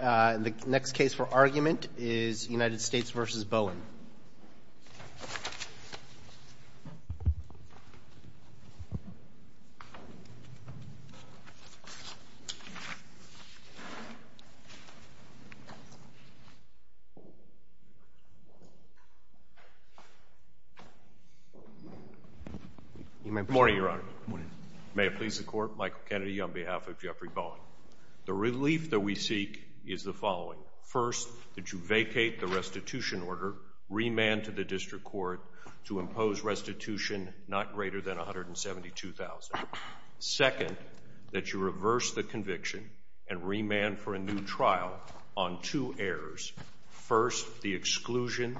The next case for argument is United States v. Bowen. Good morning, Your Honor. May it please the Court, Michael Kennedy on behalf of Jeffrey Bowen. The relief that we seek is the following. First, that you vacate the restitution order, remand to the district court to impose restitution not greater than $172,000. Second, that you reverse the conviction and remand for a new trial on two errors. First, the exclusion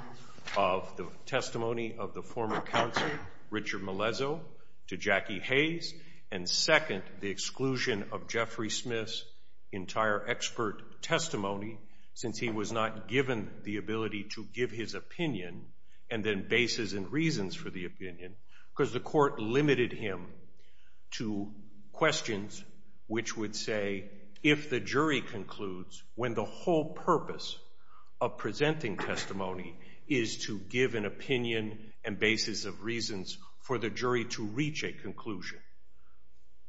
of the testimony of the former counsel, Richard Melezo, to Jackie Hayes. And second, the exclusion of Jeffrey Smith's entire expert testimony since he was not given the ability to give his opinion and then bases and reasons for the opinion because the court limited him to questions which would say, if the jury concludes when the whole purpose of presenting testimony is to give an opinion and bases of reasons for the jury to reach a conclusion.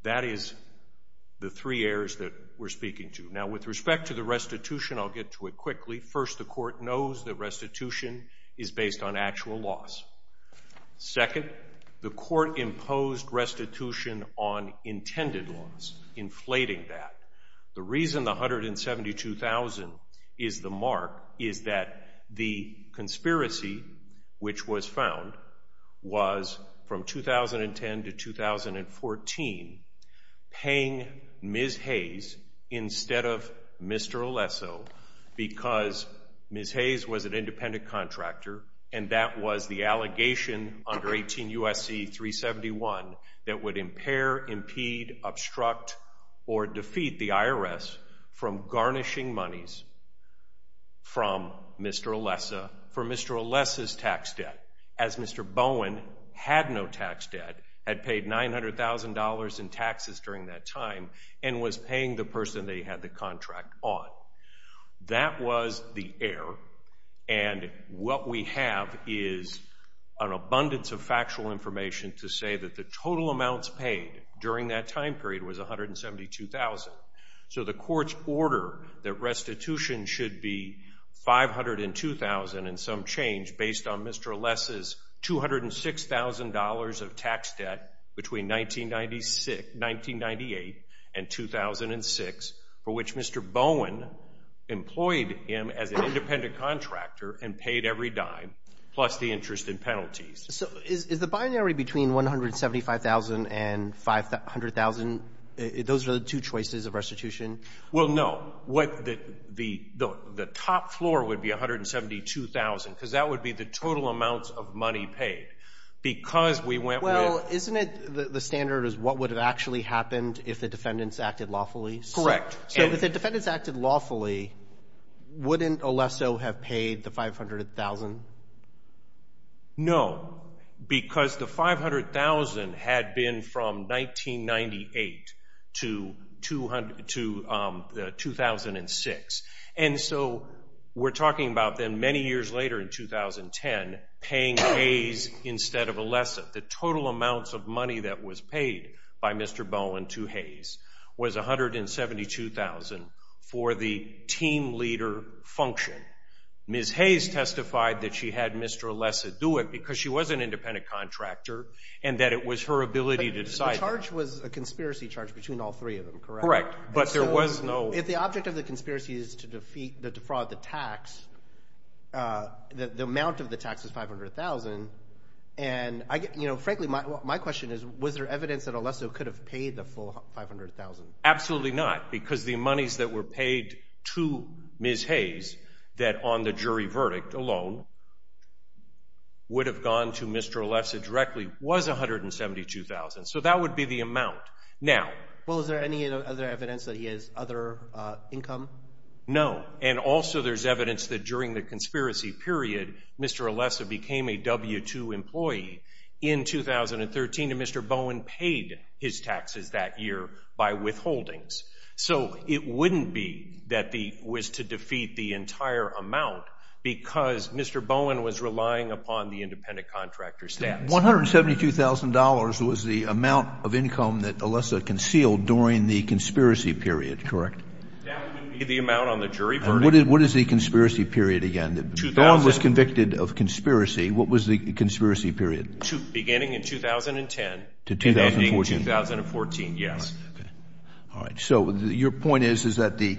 That is the three errors that we're speaking to. Now, with respect to the restitution, I'll get to it quickly. First, the court knows that restitution is based on actual loss. Second, the court imposed restitution on intended loss, inflating that. The reason the $172,000 is the mark is that the conspiracy, which was found, was from 2010 to 2014, paying Ms. Hayes instead of Mr. Alesso because Ms. Hayes was an independent contractor and that was the allegation under 18 U.S.C. 371 that would impair, impede, obstruct, or defeat the IRS from garnishing monies from Mr. Alesso for Mr. Alesso's tax debt, as Mr. Bowen had no tax debt, had paid $900,000 in taxes during that time and was paying the person they had the contract on. That was the error and what we have is an abundance of factual information to say that the total amounts paid during that time period was $172,000. So the court's order that restitution should be $502,000 and some change based on Mr. Alesso's $206,000 of tax debt between 1998 and 2006 for which Mr. Bowen employed him as an independent contractor and paid every dime plus the interest and penalties. So is the binary between $175,000 and $500,000, those are the two choices of restitution? Well, no. The top floor would be $172,000 because that would be the total amounts of money paid because we went with – Well, isn't it the standard is what would have actually happened if the defendants acted lawfully? Correct. So if the defendants acted lawfully, wouldn't Alesso have paid the $500,000? No, because the $500,000 had been from 1998 to 2006. And so we're talking about then many years later in 2010 paying Hayes instead of Alesso. The total amounts of money that was paid by Mr. Bowen to Hayes was $172,000 for the team leader function. Ms. Hayes testified that she had Mr. Alesso do it because she was an independent contractor and that it was her ability to decide that. The charge was a conspiracy charge between all three of them, correct? Correct, but there was no – If the object of the conspiracy is to defraud the tax, the amount of the tax is $500,000. And frankly, my question is was there evidence that Alesso could have paid the full $500,000? Absolutely not, because the monies that were paid to Ms. Hayes that on the jury verdict alone would have gone to Mr. Alesso directly was $172,000. So that would be the amount. Well, is there any other evidence that he has other income? No, and also there's evidence that during the conspiracy period Mr. Alesso became a W-2 employee in 2013 and Mr. Bowen paid his taxes that year by withholdings. So it wouldn't be that he was to defeat the entire amount because Mr. Bowen was relying upon the independent contractor's staff. $172,000 was the amount of income that Alesso concealed during the conspiracy period, correct? That would be the amount on the jury verdict. And what is the conspiracy period again? Bowen was convicted of conspiracy. What was the conspiracy period? Beginning in 2010 and ending in 2014, yes. All right. So your point is that the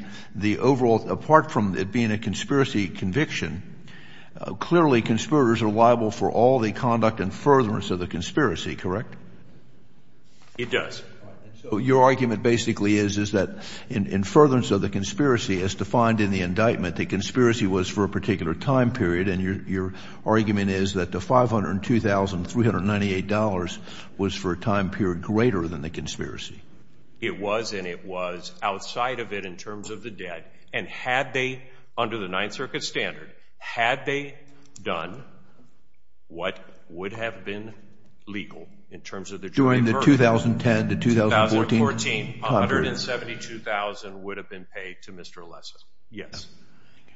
overall, apart from it being a conspiracy conviction, clearly conspirators are liable for all the conduct and furtherance of the conspiracy, correct? It does. So your argument basically is that in furtherance of the conspiracy, as defined in the indictment, the conspiracy was for a particular time period, and your argument is that the $502,398 was for a time period greater than the conspiracy. It was, and it was outside of it in terms of the debt, and had they, under the Ninth Circuit standard, had they done what would have been legal in terms of the jury verdict. During the 2010 to 2014 time period. $172,000 would have been paid to Mr. Alesso, yes.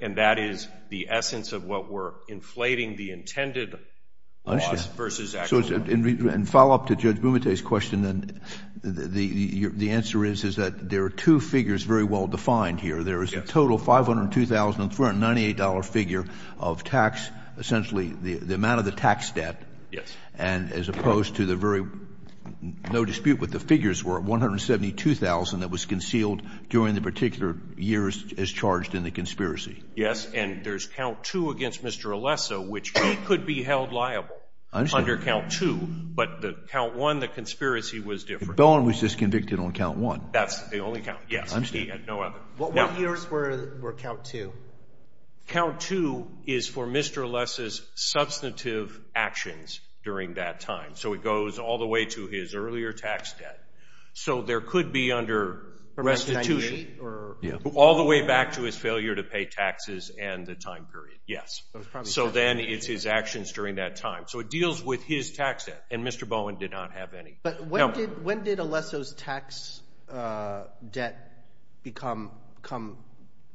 And that is the essence of what we're inflating the intended loss versus actual loss. So in follow-up to Judge Bumate's question, the answer is that there are two figures very well defined here. There is a total $502,398 figure of tax, essentially the amount of the tax debt. Yes. And as opposed to the very, no dispute what the figures were, that was concealed during the particular years as charged in the conspiracy. Yes, and there's count two against Mr. Alesso, which he could be held liable. I understand. Under count two, but the count one, the conspiracy was different. Bowen was just convicted on count one. That's the only count, yes. I understand. He had no other. What years were count two? Count two is for Mr. Alesso's substantive actions during that time. So it goes all the way to his earlier tax debt. So there could be under restitution all the way back to his failure to pay taxes and the time period. Yes. So then it's his actions during that time. So it deals with his tax debt, and Mr. Bowen did not have any. But when did Alesso's tax debt become,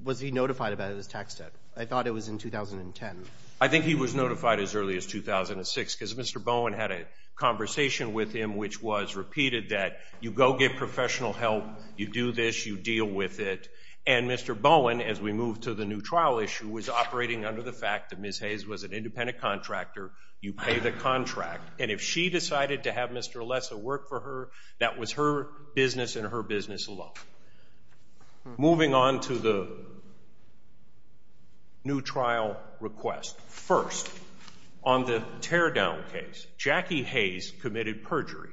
was he notified about his tax debt? I thought it was in 2010. I think he was notified as early as 2006 because Mr. Bowen had a conversation with him which was repeated that you go get professional help, you do this, you deal with it. And Mr. Bowen, as we move to the new trial issue, was operating under the fact that Ms. Hayes was an independent contractor, you pay the contract. And if she decided to have Mr. Alesso work for her, that was her business and her business alone. Moving on to the new trial request. First, on the teardown case, Jackie Hayes committed perjury,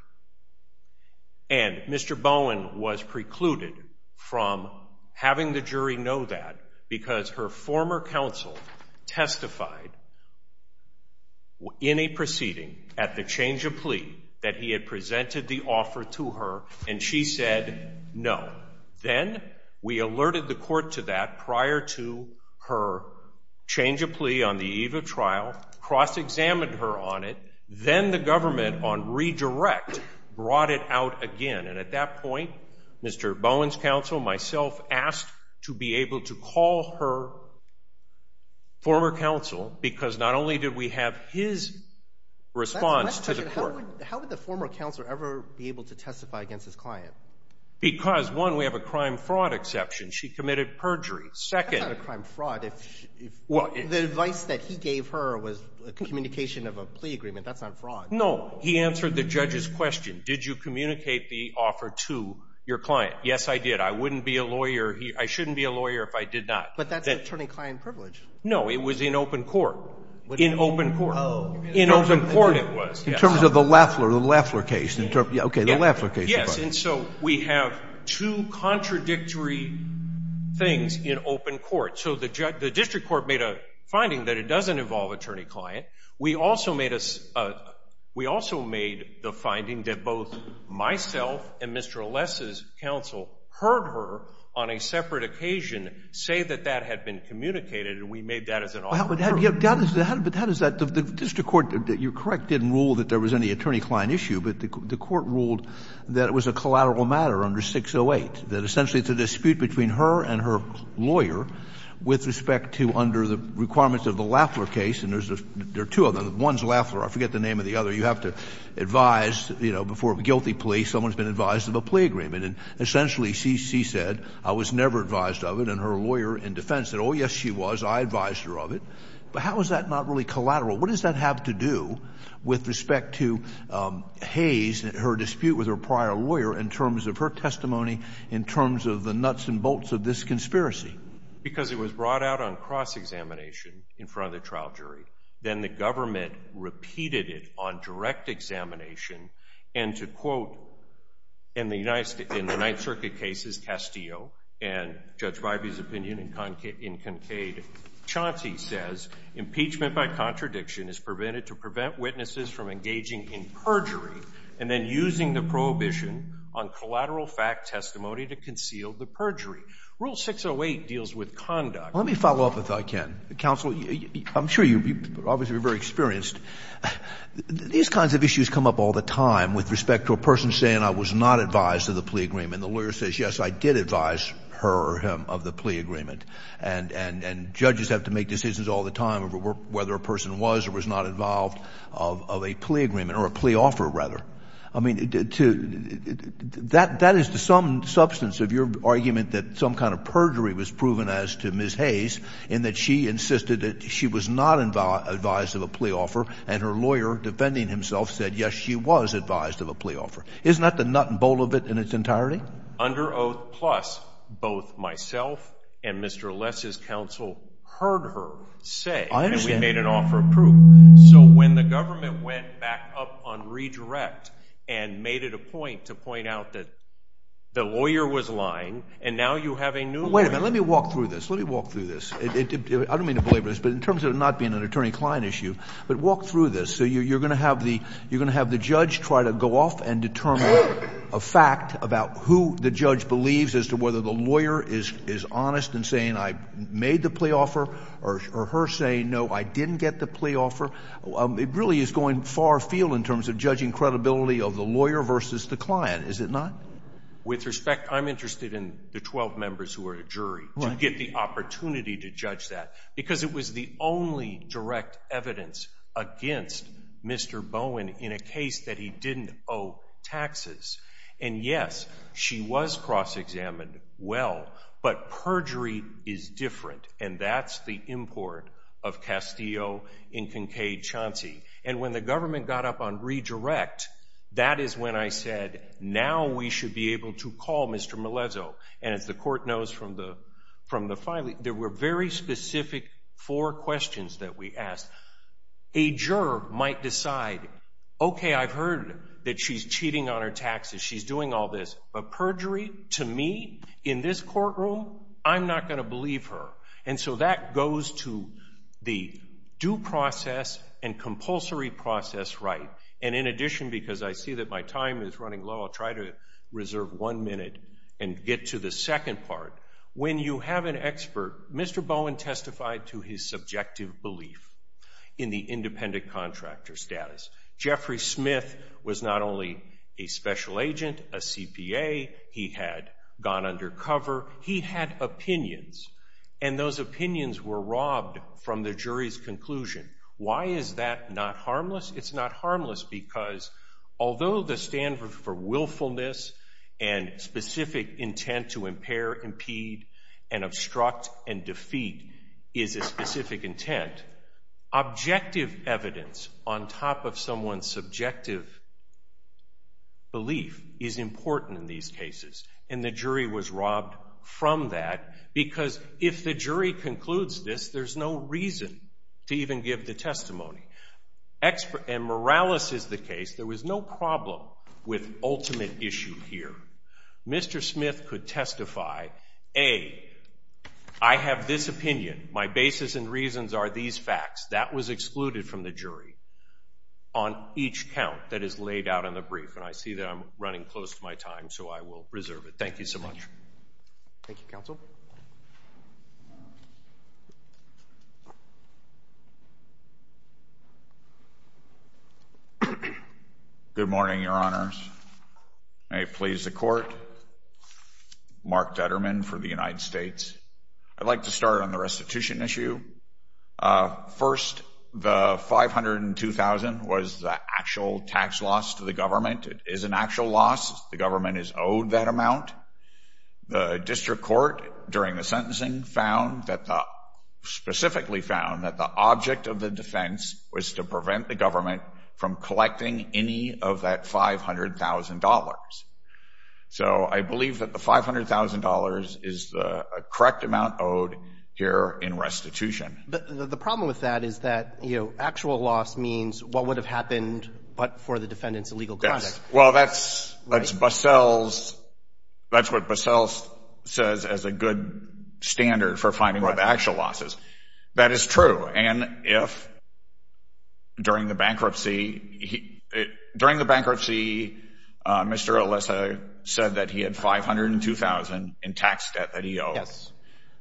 and Mr. Bowen was precluded from having the jury know that because her former counsel testified in a proceeding at the change of plea that he had presented the offer to her, and she said no. Then we alerted the court to that prior to her change of plea on the eve of trial, cross-examined her on it, then the government on redirect brought it out again. And at that point, Mr. Bowen's counsel, myself, asked to be able to call her former counsel because not only did we have his response to the court. How would the former counselor ever be able to testify against his client? Because, one, we have a crime-fraud exception. She committed perjury. That's not a crime-fraud. The advice that he gave her was a communication of a plea agreement. That's not fraud. No. He answered the judge's question. Did you communicate the offer to your client? Yes, I did. I wouldn't be a lawyer. I shouldn't be a lawyer if I did not. But that's attorney-client privilege. No. It was in open court. In open court. Oh. In open court it was. In terms of the Lafler case. Okay, the Lafler case. Yes, and so we have two contradictory things in open court. So the district court made a finding that it doesn't involve attorney-client. We also made the finding that both myself and Mr. Alessa's counsel heard her, on a separate occasion, say that that had been communicated, and we made that as an offer to her. But how does that – the district court, you're correct, didn't rule that there was any attorney-client issue, but the court ruled that it was a collateral matter under 608, that essentially it's a dispute between her and her lawyer with respect to, under the requirements of the Lafler case, and there are two of them. One's Lafler. I forget the name of the other. You have to advise, you know, before a guilty plea, someone's been advised of a plea agreement. And essentially she said, I was never advised of it, and her lawyer in defense said, oh, yes, she was. I advised her of it. But how is that not really collateral? What does that have to do with respect to Hayes, her dispute with her prior lawyer in terms of her testimony, in terms of the nuts and bolts of this conspiracy? Because it was brought out on cross-examination in front of the trial jury. Then the government repeated it on direct examination and to, quote, in the Ninth Circuit cases, Castillo and Judge Bybee's opinion in Kincade, Chauncey says impeachment by contradiction is prevented to prevent witnesses from engaging in perjury and then using the prohibition on collateral fact testimony to conceal the perjury. Rule 608 deals with conduct. Let me follow up, if I can. Counsel, I'm sure you're obviously very experienced. These kinds of issues come up all the time with respect to a person saying, I was not advised of the plea agreement. The lawyer says, yes, I did advise her or him of the plea agreement. And judges have to make decisions all the time of whether a person was or was not involved of a plea agreement or a plea offer, rather. I mean, that is to some substance of your argument that some kind of perjury was proven as to Ms. Hayes in that she insisted that she was not advised of a plea offer and her lawyer defending himself said, yes, she was advised of a plea offer. Isn't that the nut and bolt of it in its entirety? Under oath plus, both myself and Mr. Less's counsel heard her say. I understand. And we made an offer of proof. So when the government went back up on redirect and made it a point to point out that the lawyer was lying and now you have a new lawyer. Wait a minute. Let me walk through this. Let me walk through this. I don't mean to belabor this, but in terms of it not being an attorney-client issue, but walk through this. So you're going to have the judge try to go off and determine a fact about who the judge believes as to whether the lawyer is honest in saying I made the plea offer or her saying, no, I didn't get the plea offer. It really is going far afield in terms of judging credibility of the lawyer versus the client, is it not? With respect, I'm interested in the 12 members who are a jury to get the opportunity to judge that because it was the only direct evidence against Mr. Bowen in a case that he didn't owe taxes. And, yes, she was cross-examined well, but perjury is different. And that's the import of Castillo in Kincaid, Chauncey. And when the government got up on redirect, that is when I said now we should be able to call Mr. Melezo. And as the court knows from the filing, there were very specific four questions that we asked. A juror might decide, okay, I've heard that she's cheating on her taxes, she's doing all this. But perjury, to me, in this courtroom, I'm not going to believe her. And so that goes to the due process and compulsory process right. And in addition, because I see that my time is running low, I'll try to reserve one minute and get to the second part. When you have an expert, Mr. Bowen testified to his subjective belief in the independent contractor status. Jeffrey Smith was not only a special agent, a CPA, he had gone undercover, he had opinions. And those opinions were robbed from the jury's conclusion. Why is that not harmless? It's not harmless because although the standard for willfulness and specific intent to impair, impede, and obstruct and defeat is a specific intent, objective evidence on top of someone's subjective belief is important in these cases. And the jury was robbed from that because if the jury concludes this, there's no reason to even give the testimony. And Morales is the case. There was no problem with ultimate issue here. Mr. Smith could testify, A, I have this opinion. My basis and reasons are these facts. That was excluded from the jury on each count that is laid out in the brief. And I see that I'm running close to my time, so I will reserve it. Thank you so much. Thank you, Counsel. Good morning, Your Honors. May it please the Court. Mark Detterman for the United States. I'd like to start on the restitution issue. First, the $502,000 was the actual tax loss to the government. It is an actual loss. The government is owed that amount. The district court during the sentencing found that the, specifically found that the object of the defense was to prevent the government from collecting any of that $500,000. So I believe that the $500,000 is the correct amount owed here in restitution. But the problem with that is that, you know, actual loss means what would have happened but for the defendant's illegal conduct. Well, that's what Bussell says as a good standard for finding what the actual loss is. That is true. And if during the bankruptcy Mr. Alessa said that he had $502,000 in tax debt that he owed. Yes.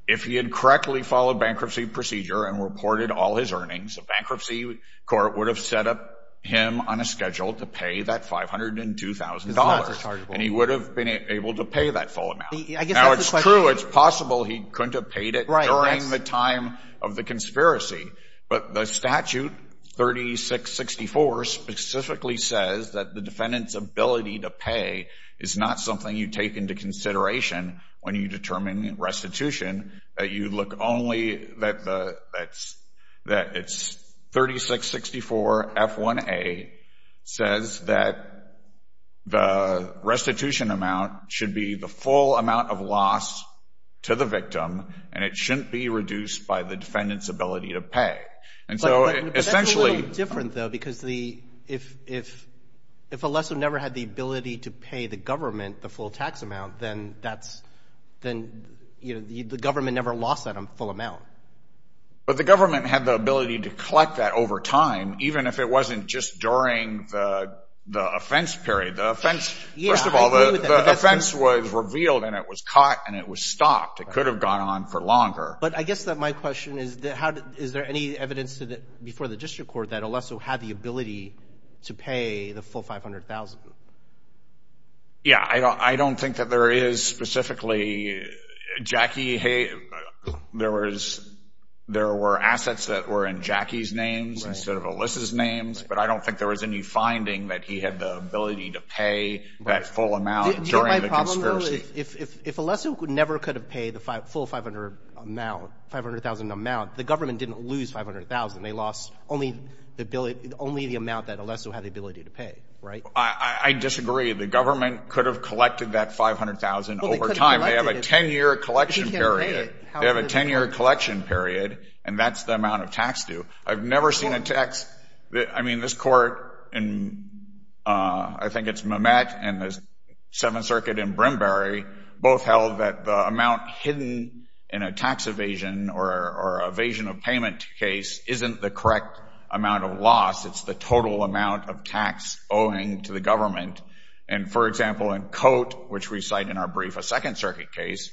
If he had correctly followed bankruptcy procedure and reported all his earnings, a bankruptcy court would have set up him on a schedule to pay that $502,000. And he would have been able to pay that full amount. Now it's true, it's possible he couldn't have paid it during the time of the conspiracy. But the statute 3664 specifically says that the defendant's ability to pay is not something you take into consideration when you determine restitution that you look only, that it's 3664 F1A says that the restitution amount should be the full amount of loss to the victim and it shouldn't be reduced by the defendant's ability to pay. But that's a little different though because if Alessa never had the ability to pay the government the full tax amount, then the government never lost that full amount. But the government had the ability to collect that over time, even if it wasn't just during the offense period. First of all, the offense was revealed and it was caught and it was stopped. It could have gone on for longer. But I guess that my question is, is there any evidence before the district court that Alessa had the ability to pay the full 500,000? Yeah, I don't think that there is specifically. Jackie, there were assets that were in Jackie's names instead of Alyssa's names, but I don't think there was any finding that he had the ability to pay that full amount during the conspiracy. Do you know my problem though? If Alessa never could have paid the full 500,000 amount, the government didn't lose 500,000. They lost only the amount that Alessa had the ability to pay, right? I disagree. The government could have collected that 500,000 over time. They have a 10-year collection period. They have a 10-year collection period, and that's the amount of tax due. I've never seen a tax – I mean, this court in – I think it's Mamet and the Seventh Circuit in Brimberry both held that the amount hidden in a tax evasion or evasion of payment case isn't the correct amount of loss. It's the total amount of tax owing to the government. And, for example, in Cote, which we cite in our brief, a Second Circuit case,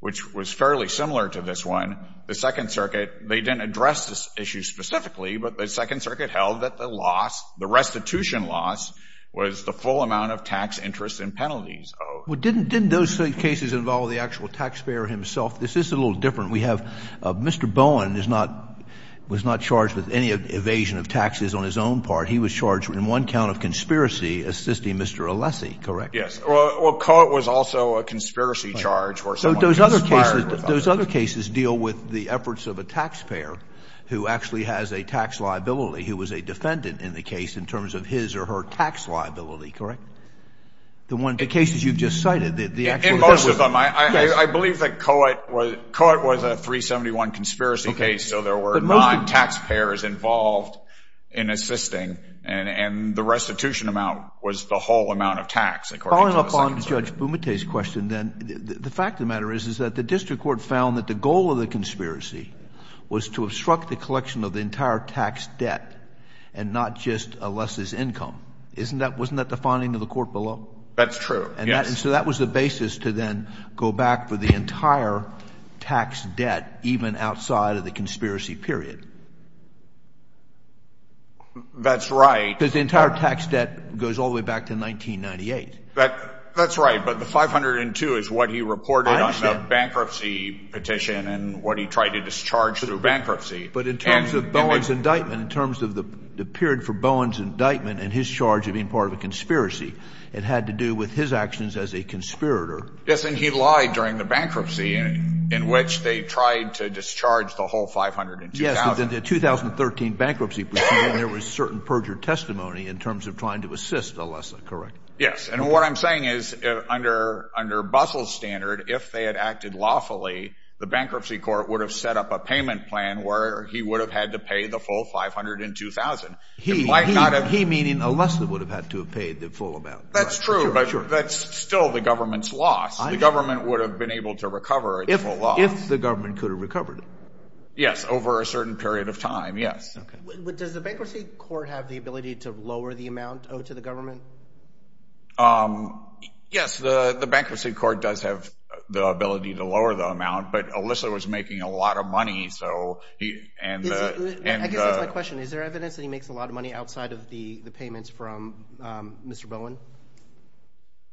which was fairly similar to this one, the Second Circuit, they didn't address this issue specifically, but the Second Circuit held that the loss, the restitution loss, was the full amount of tax interest and penalties owed. Well, didn't those cases involve the actual taxpayer himself? This is a little different. We have – Mr. Bowen is not – was not charged with any evasion of taxes on his own part. He was charged in one count of conspiracy assisting Mr. Alessi, correct? Yes. Well, Cote was also a conspiracy charge where someone conspired – So those other cases deal with the efforts of a taxpayer who actually has a tax liability, who was a defendant in the case in terms of his or her tax liability, The one – the cases you've just cited, the actual – I believe that Cote was a 371 conspiracy case, so there were non-taxpayers involved in assisting, and the restitution amount was the whole amount of tax, according to the Second Circuit. Following up on Judge Bumate's question, then, the fact of the matter is, is that the district court found that the goal of the conspiracy was to obstruct the collection of the entire tax debt and not just Alessi's income. Isn't that – wasn't that the finding of the court below? That's true, yes. And so that was the basis to then go back for the entire tax debt, even outside of the conspiracy period. That's right. Because the entire tax debt goes all the way back to 1998. That's right, but the 502 is what he reported on the bankruptcy petition and what he tried to discharge through bankruptcy. But in terms of Bowen's indictment, in terms of the period for Bowen's indictment and his charge of being part of a conspiracy, it had to do with his actions as a conspirator. Yes, and he lied during the bankruptcy in which they tried to discharge the whole 502,000. Yes, but in the 2013 bankruptcy petition, there was certain perjured testimony in terms of trying to assist Alessa, correct? Yes, and what I'm saying is, under Bussell's standard, if they had acted lawfully, the bankruptcy court would have set up a payment plan where he would have had to pay the full 502,000. He, meaning Alessa, would have had to have paid the full amount. That's true, but that's still the government's loss. The government would have been able to recover the full loss. If the government could have recovered it. Yes, over a certain period of time, yes. Does the bankruptcy court have the ability to lower the amount owed to the government? Yes, the bankruptcy court does have the ability to lower the amount, but Alessa was making a lot of money. I guess that's my question. Is there evidence that he makes a lot of money outside of the payments from Mr. Bowen?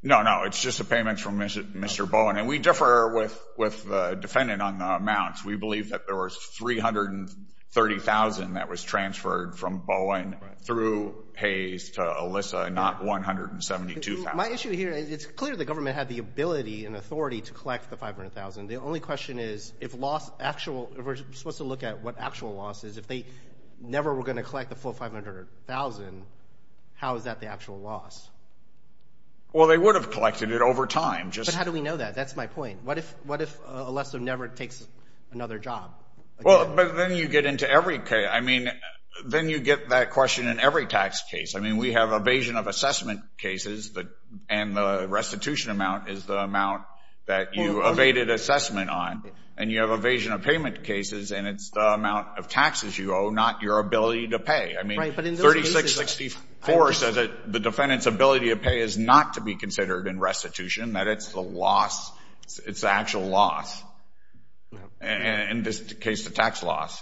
No, no, it's just the payments from Mr. Bowen, and we differ with the defendant on the amounts. We believe that there was 330,000 that was transferred from Bowen through Hayes to Alessa, not 172,000. My issue here, it's clear the government had the ability and authority to collect the 500,000. The only question is, if we're supposed to look at what actual loss is, if they never were going to collect the full 500,000, how is that the actual loss? Well, they would have collected it over time. But how do we know that? That's my point. What if Alessa never takes another job? Then you get that question in every tax case. We have evasion of assessment cases, and the restitution amount is the amount that you evaded assessment on. And you have evasion of payment cases, and it's the amount of taxes you owe, not your ability to pay. I mean, 3664 says that the defendant's ability to pay is not to be considered in restitution, that it's the loss, it's the actual loss. In this case, the tax loss.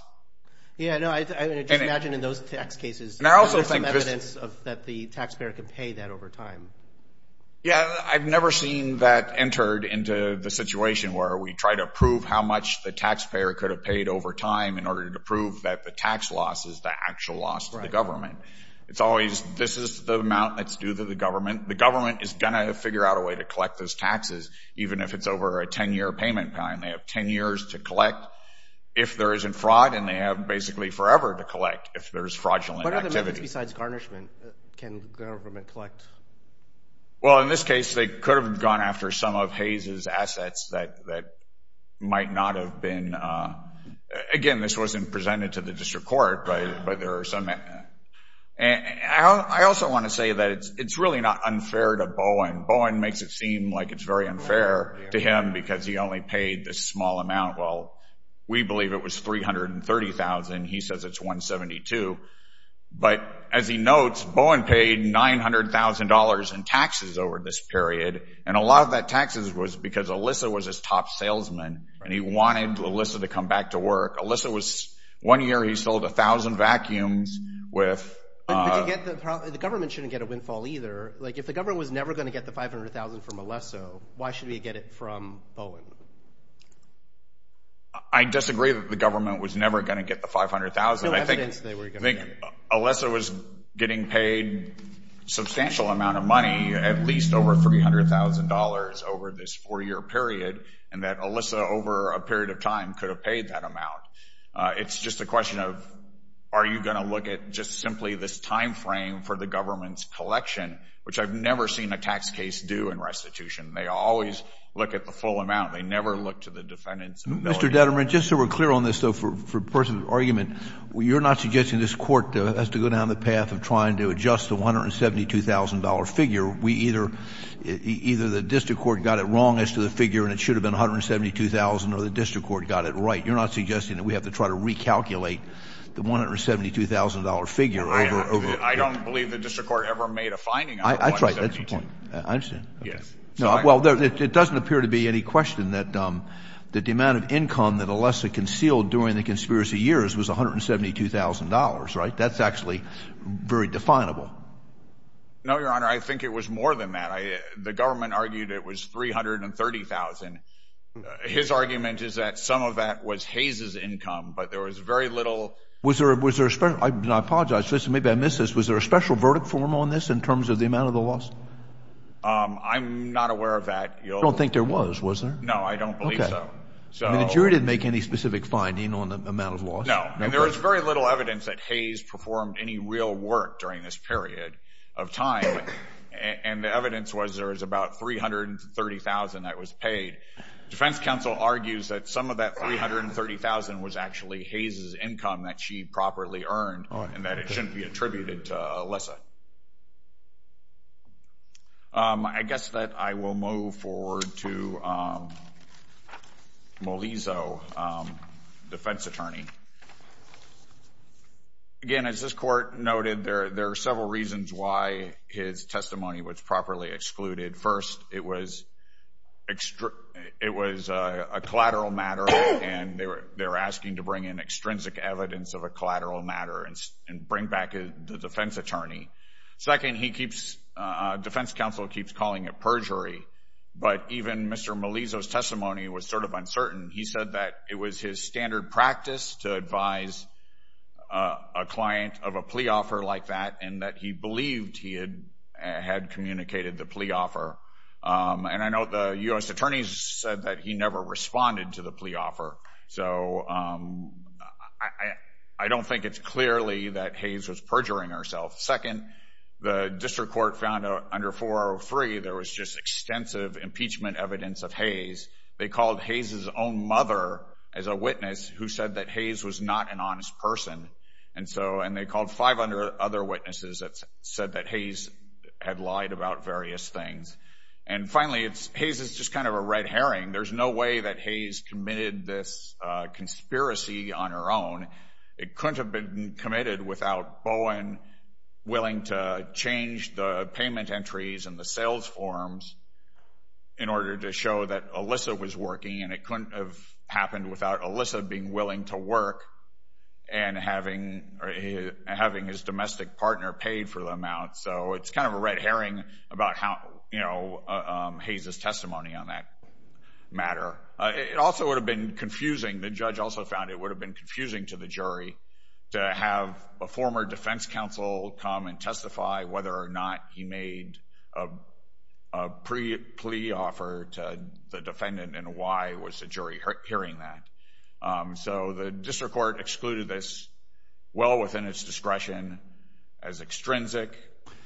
Yeah, no, I just imagine in those tax cases, there's some evidence that the taxpayer could pay that over time. Yeah, I've never seen that entered into the situation where we try to prove how much the taxpayer could have paid over time in order to prove that the tax loss is the actual loss to the government. It's always, this is the amount that's due to the government. The government is going to figure out a way to collect those taxes, even if it's over a 10-year payment time. They have 10 years to collect if there isn't fraud, and they have basically forever to collect if there's fraudulent activity. What other methods besides garnishment can the government collect? Well, in this case, they could have gone after some of Hayes' assets that might not have been... Again, this wasn't presented to the district court, but there are some... I also want to say that it's really not unfair to Bowen. Bowen makes it seem like it's very unfair to him because he only paid this small amount. Well, we believe it was 330,000. He says it's 172. But as he notes, Bowen paid $900,000 in taxes over this period, and a lot of that taxes was because Alyssa was his top salesman, and he wanted Alyssa to come back to work. Alyssa was, one year he sold 1,000 vacuums with... But the government shouldn't get a windfall either. If the government was never going to get the 500,000 from Alyssa, why should we get it from Bowen? I disagree that the government was never going to get the 500,000. I think Alyssa was getting paid a substantial amount of money, at least over $300,000 over this four-year period, and that Alyssa, over a period of time, could have paid that amount. It's just a question of, are you going to look at just simply this time frame for the government's collection, which I've never seen a tax case do in restitution. They always look at the full amount. They never look to the defendant's ability. Mr. Detterman, just so we're clear on this, though, for the purpose of the argument, you're not suggesting this court has to go down the path of trying to adjust the $172,000 figure. Either the district court got it wrong as to the figure, and it should have been $172,000, or the district court got it right. You're not suggesting that we have to try to recalculate the $172,000 figure over... I don't believe the district court ever made a finding out of $172,000. That's right. That's the point. I understand. Well, it doesn't appear to be any question that the amount of income that Alessa concealed during the conspiracy years was $172,000, right? That's actually very definable. No, Your Honor, I think it was more than that. The government argued it was $330,000. His argument is that some of that was Hayes's income, but there was very little... Was there a special... I apologize. Listen, maybe I missed this. Was there a special verdict for him on this in terms of the amount of the loss? I'm not aware of that. I don't think there was, was there? No, I don't believe so. The jury didn't make any specific finding on the amount of loss? No, and there was very little evidence that Hayes performed any real work during this period of time, and the evidence was there was about $330,000 that was paid. Defense counsel argues that some of that $330,000 was actually Hayes's income that she properly earned and that it shouldn't be attributed to Alessa. I guess that I will move forward to Molizo, defense attorney. Again, as this court noted, there are several reasons why his testimony was properly excluded. First, it was a collateral matter, and they were asking to bring in extrinsic evidence of a collateral matter and bring back the defense attorney. Second, defense counsel keeps calling it perjury, but even Mr. Molizo's testimony was sort of uncertain. He said that it was his standard practice to advise a client of a plea offer like that and that he believed he had communicated the plea offer. And I know the U.S. attorneys said that he never responded to the plea offer, so I don't think it's clearly that Hayes was perjuring herself. Second, the district court found under 403 there was just extensive impeachment evidence of Hayes. They called Hayes's own mother as a witness who said that Hayes was not an honest person, and they called 500 other witnesses that said that Hayes had lied about various things. And finally, Hayes is just kind of a red herring. There's no way that Hayes committed this conspiracy on her own. It couldn't have been committed without Bowen willing to change the payment entries and the sales forms in order to show that Alyssa was working, and it couldn't have happened without Alyssa being willing to work and having his domestic partner pay for the amount. So it's kind of a red herring about, you know, Hayes's testimony on that matter. It also would have been confusing. The judge also found it would have been confusing to the jury to have a former defense counsel come and testify whether or not he made a plea offer to the defendant and why was the jury hearing that. So the district court excluded this well within its discretion as extrinsic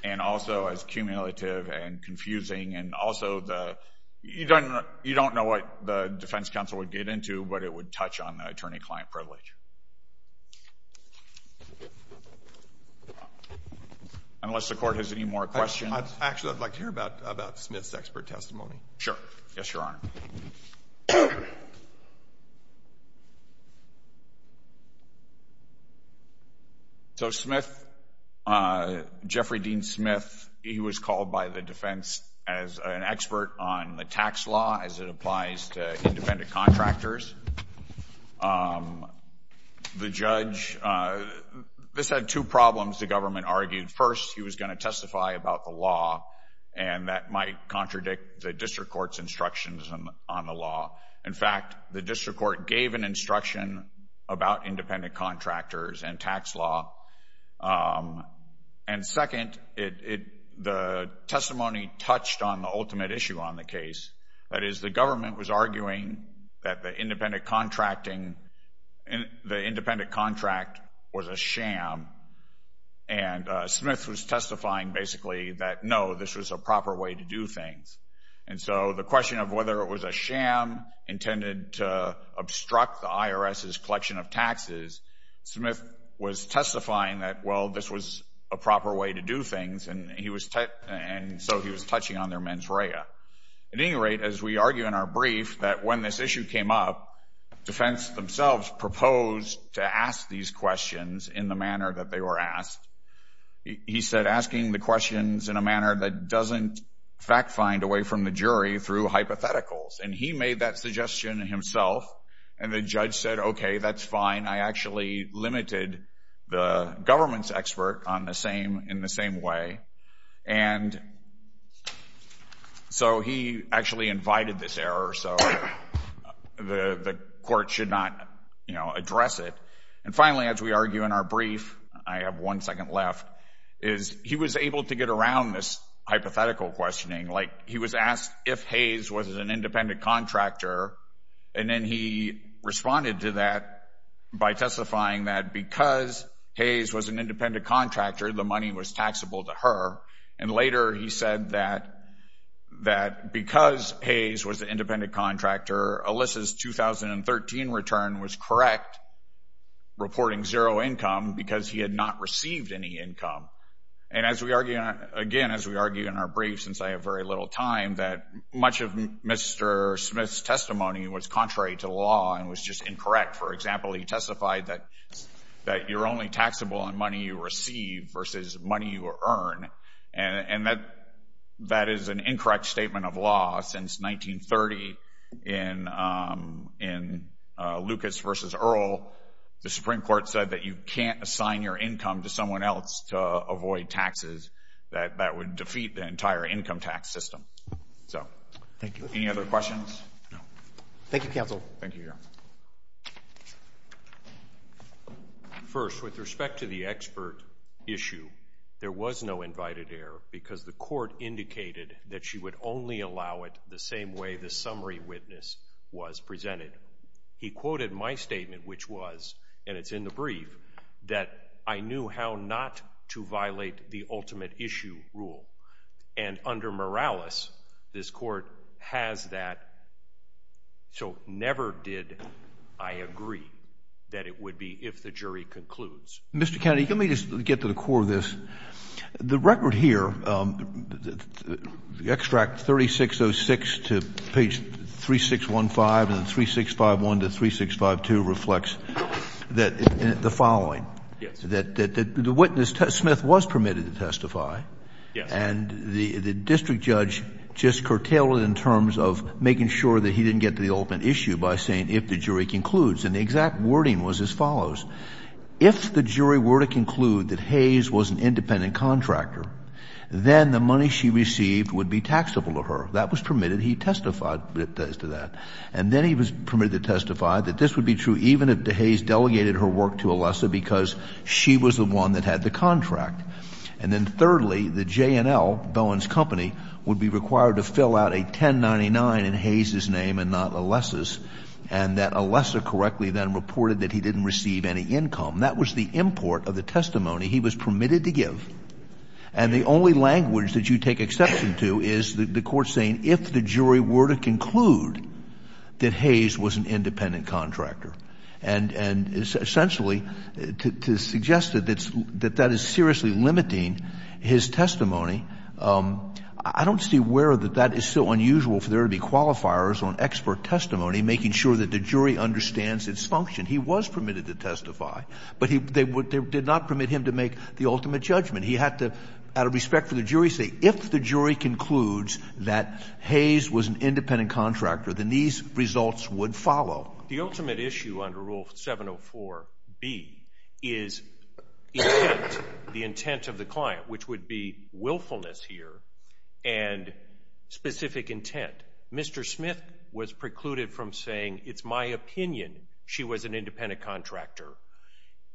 and also as cumulative and confusing and also the... You don't know what the defense counsel would get into, but it would touch on the attorney-client privilege. Unless the court has any more questions. Actually, I'd like to hear about Smith's expert testimony. Sure. Yes, Your Honor. So Smith, Jeffrey Dean Smith, he was called by the defense as an expert on the tax law as it applies to independent contractors. The judge... This had two problems, the government argued. First, he was going to testify about the law, and that might contradict the district court's instructions on the law. In fact, the district court gave an instruction about independent contractors and tax law. And second, the testimony touched on the ultimate issue on the case, that is, the government was arguing that the independent contracting... The independent contract was a sham, and Smith was testifying basically that, no, this was a proper way to do things. And so the question of whether it was a sham intended to obstruct the IRS's collection of taxes, Smith was testifying that, well, this was a proper way to do things, and so he was touching on their mens rea. At any rate, as we argue in our brief that when this issue came up, defense themselves proposed to ask these questions in the manner that they were asked. He said, asking the questions in a manner that doesn't fact-find away from the jury through hypotheticals. And he made that suggestion himself, and the judge said, okay, that's fine. I actually limited the government's expert in the same way. And so he actually invited this error, so the court should not address it. And finally, as we argue in our brief, I have one second left, is he was able to get around this hypothetical questioning. Like, he was asked if Hayes was an independent contractor, and then he responded to that by testifying that because Hayes was an independent contractor, the money was taxable to her. And later he said that because Hayes was an independent contractor, Alyssa's 2013 return was correct, reporting zero income because he had not received any income. And again, as we argue in our brief, since I have very little time, that much of Mr. Smith's testimony was contrary to the law and was just incorrect. For example, he testified that you're only taxable on money you receive versus money you earn, and that is an incorrect statement of law. Since 1930, in Lucas v. Earl, the Supreme Court said that you can't assign your income to someone else to avoid taxes. That would defeat the entire income tax system. So, any other questions? Thank you, counsel. Thank you, Your Honor. First, with respect to the expert issue, there was no invited error because the court indicated that she would only allow it the same way the summary witness was presented. He quoted my statement, which was, and it's in the brief, that I knew how not to violate the ultimate issue rule. And under Morales, this court has that, so never did I agree that it would be if the jury concludes. Mr. Kennedy, let me just get to the core of this. The record here, extract 3606 to page 3615 and then 3651 to 3652 reflects the following. Yes. The witness, Smith, was permitted to testify. Yes. And the district judge just curtailed it in terms of making sure that he didn't get to the ultimate issue by saying if the jury concludes. And the exact wording was as follows. If the jury were to conclude that Hayes was an independent contractor, then the money she received would be taxable to her. That was permitted. He testified as to that. And then he was permitted to testify that this would be true even if Hayes delegated her work to Alessa because she was the one that had the contract. And then thirdly, the J&L, Bowen's company, would be required to fill out a 1099 in Hayes' name and not Alessa's and that Alessa correctly then reported that he didn't receive any income. That was the import of the testimony he was permitted to give. And the only language that you take exception to is the court saying if the jury were to conclude that Hayes was an independent contractor. And essentially to suggest that that is seriously limiting his testimony, I don't see where that that is so unusual for there to be qualifiers on expert testimony making sure that the jury understands its function. He was permitted to testify, but they did not permit him to make the ultimate judgment. He had to, out of respect for the jury, say if the jury concludes that Hayes was an independent contractor, then these results would follow. The ultimate issue under Rule 704B is intent, the intent of the client, which would be willfulness here, and specific intent. Mr. Smith was precluded from saying, it's my opinion she was an independent contractor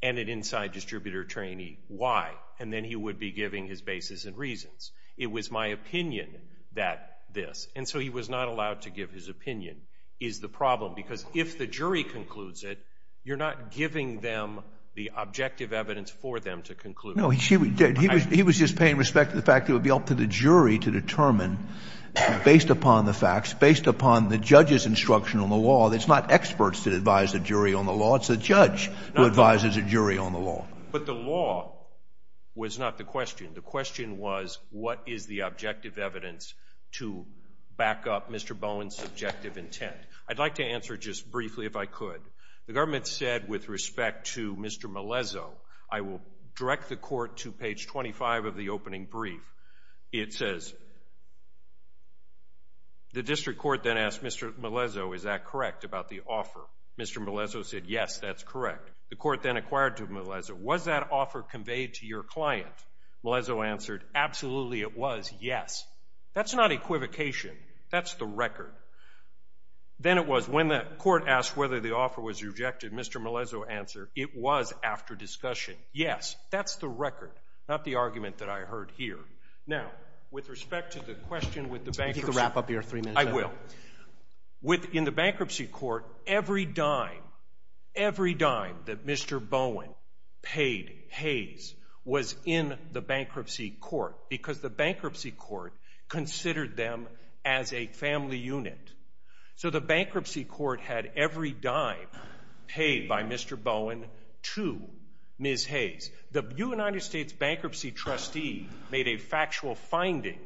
and an inside distributor trainee. Why? And then he would be giving his basis and reasons. It was my opinion that this. And so he was not allowed to give his opinion is the problem because if the jury concludes it, you're not giving them the objective evidence for them to conclude. No, he did. He was just paying respect to the fact that it would be up to the jury to determine based upon the facts, based upon the judge's instruction on the law. It's not experts that advise the jury on the law. It's a judge who advises a jury on the law. But the law was not the question. The question was what is the objective evidence to back up Mr. Bowen's subjective intent? I'd like to answer just briefly if I could. The government said with respect to Mr. Melezo, I will direct the court to page 25 of the opening brief. It says, the district court then asked Mr. Melezo, is that correct about the offer? Mr. Melezo said, yes, that's correct. The court then acquired to Melezo, was that offer conveyed to your client? Melezo answered, absolutely it was, yes. That's not equivocation. That's the record. Then it was, when the court asked whether the offer was rejected, Mr. Melezo answered, it was after discussion. Yes, that's the record, not the argument that I heard here. Now, with respect to the question with the bankruptcy... You can wrap up your three minutes. I will. In the bankruptcy court, every dime, every dime that Mr. Bowen paid, Hayes, was in the bankruptcy court because the bankruptcy court considered them as a family unit. So the bankruptcy court had every dime paid by Mr. Bowen to Ms. Hayes. The United States Bankruptcy Trustee made a factual finding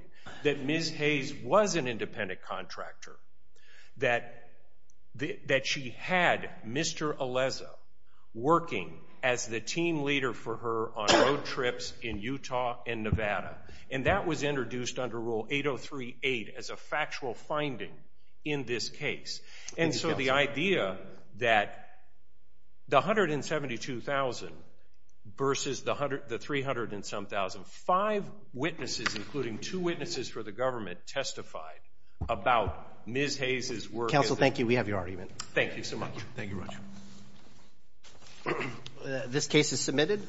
that Ms. Hayes was an independent contractor, that she had Mr. Melezo working as the team leader for her on road trips in Utah and Nevada. And that was introduced under Rule 803-8 as a factual finding in this case. And so the idea that the $172,000 versus the $307,000, five witnesses, including two witnesses for the government, testified about Ms. Hayes' work... Counsel, thank you. We have your argument. Thank you so much. Thank you, Roger. This case is submitted.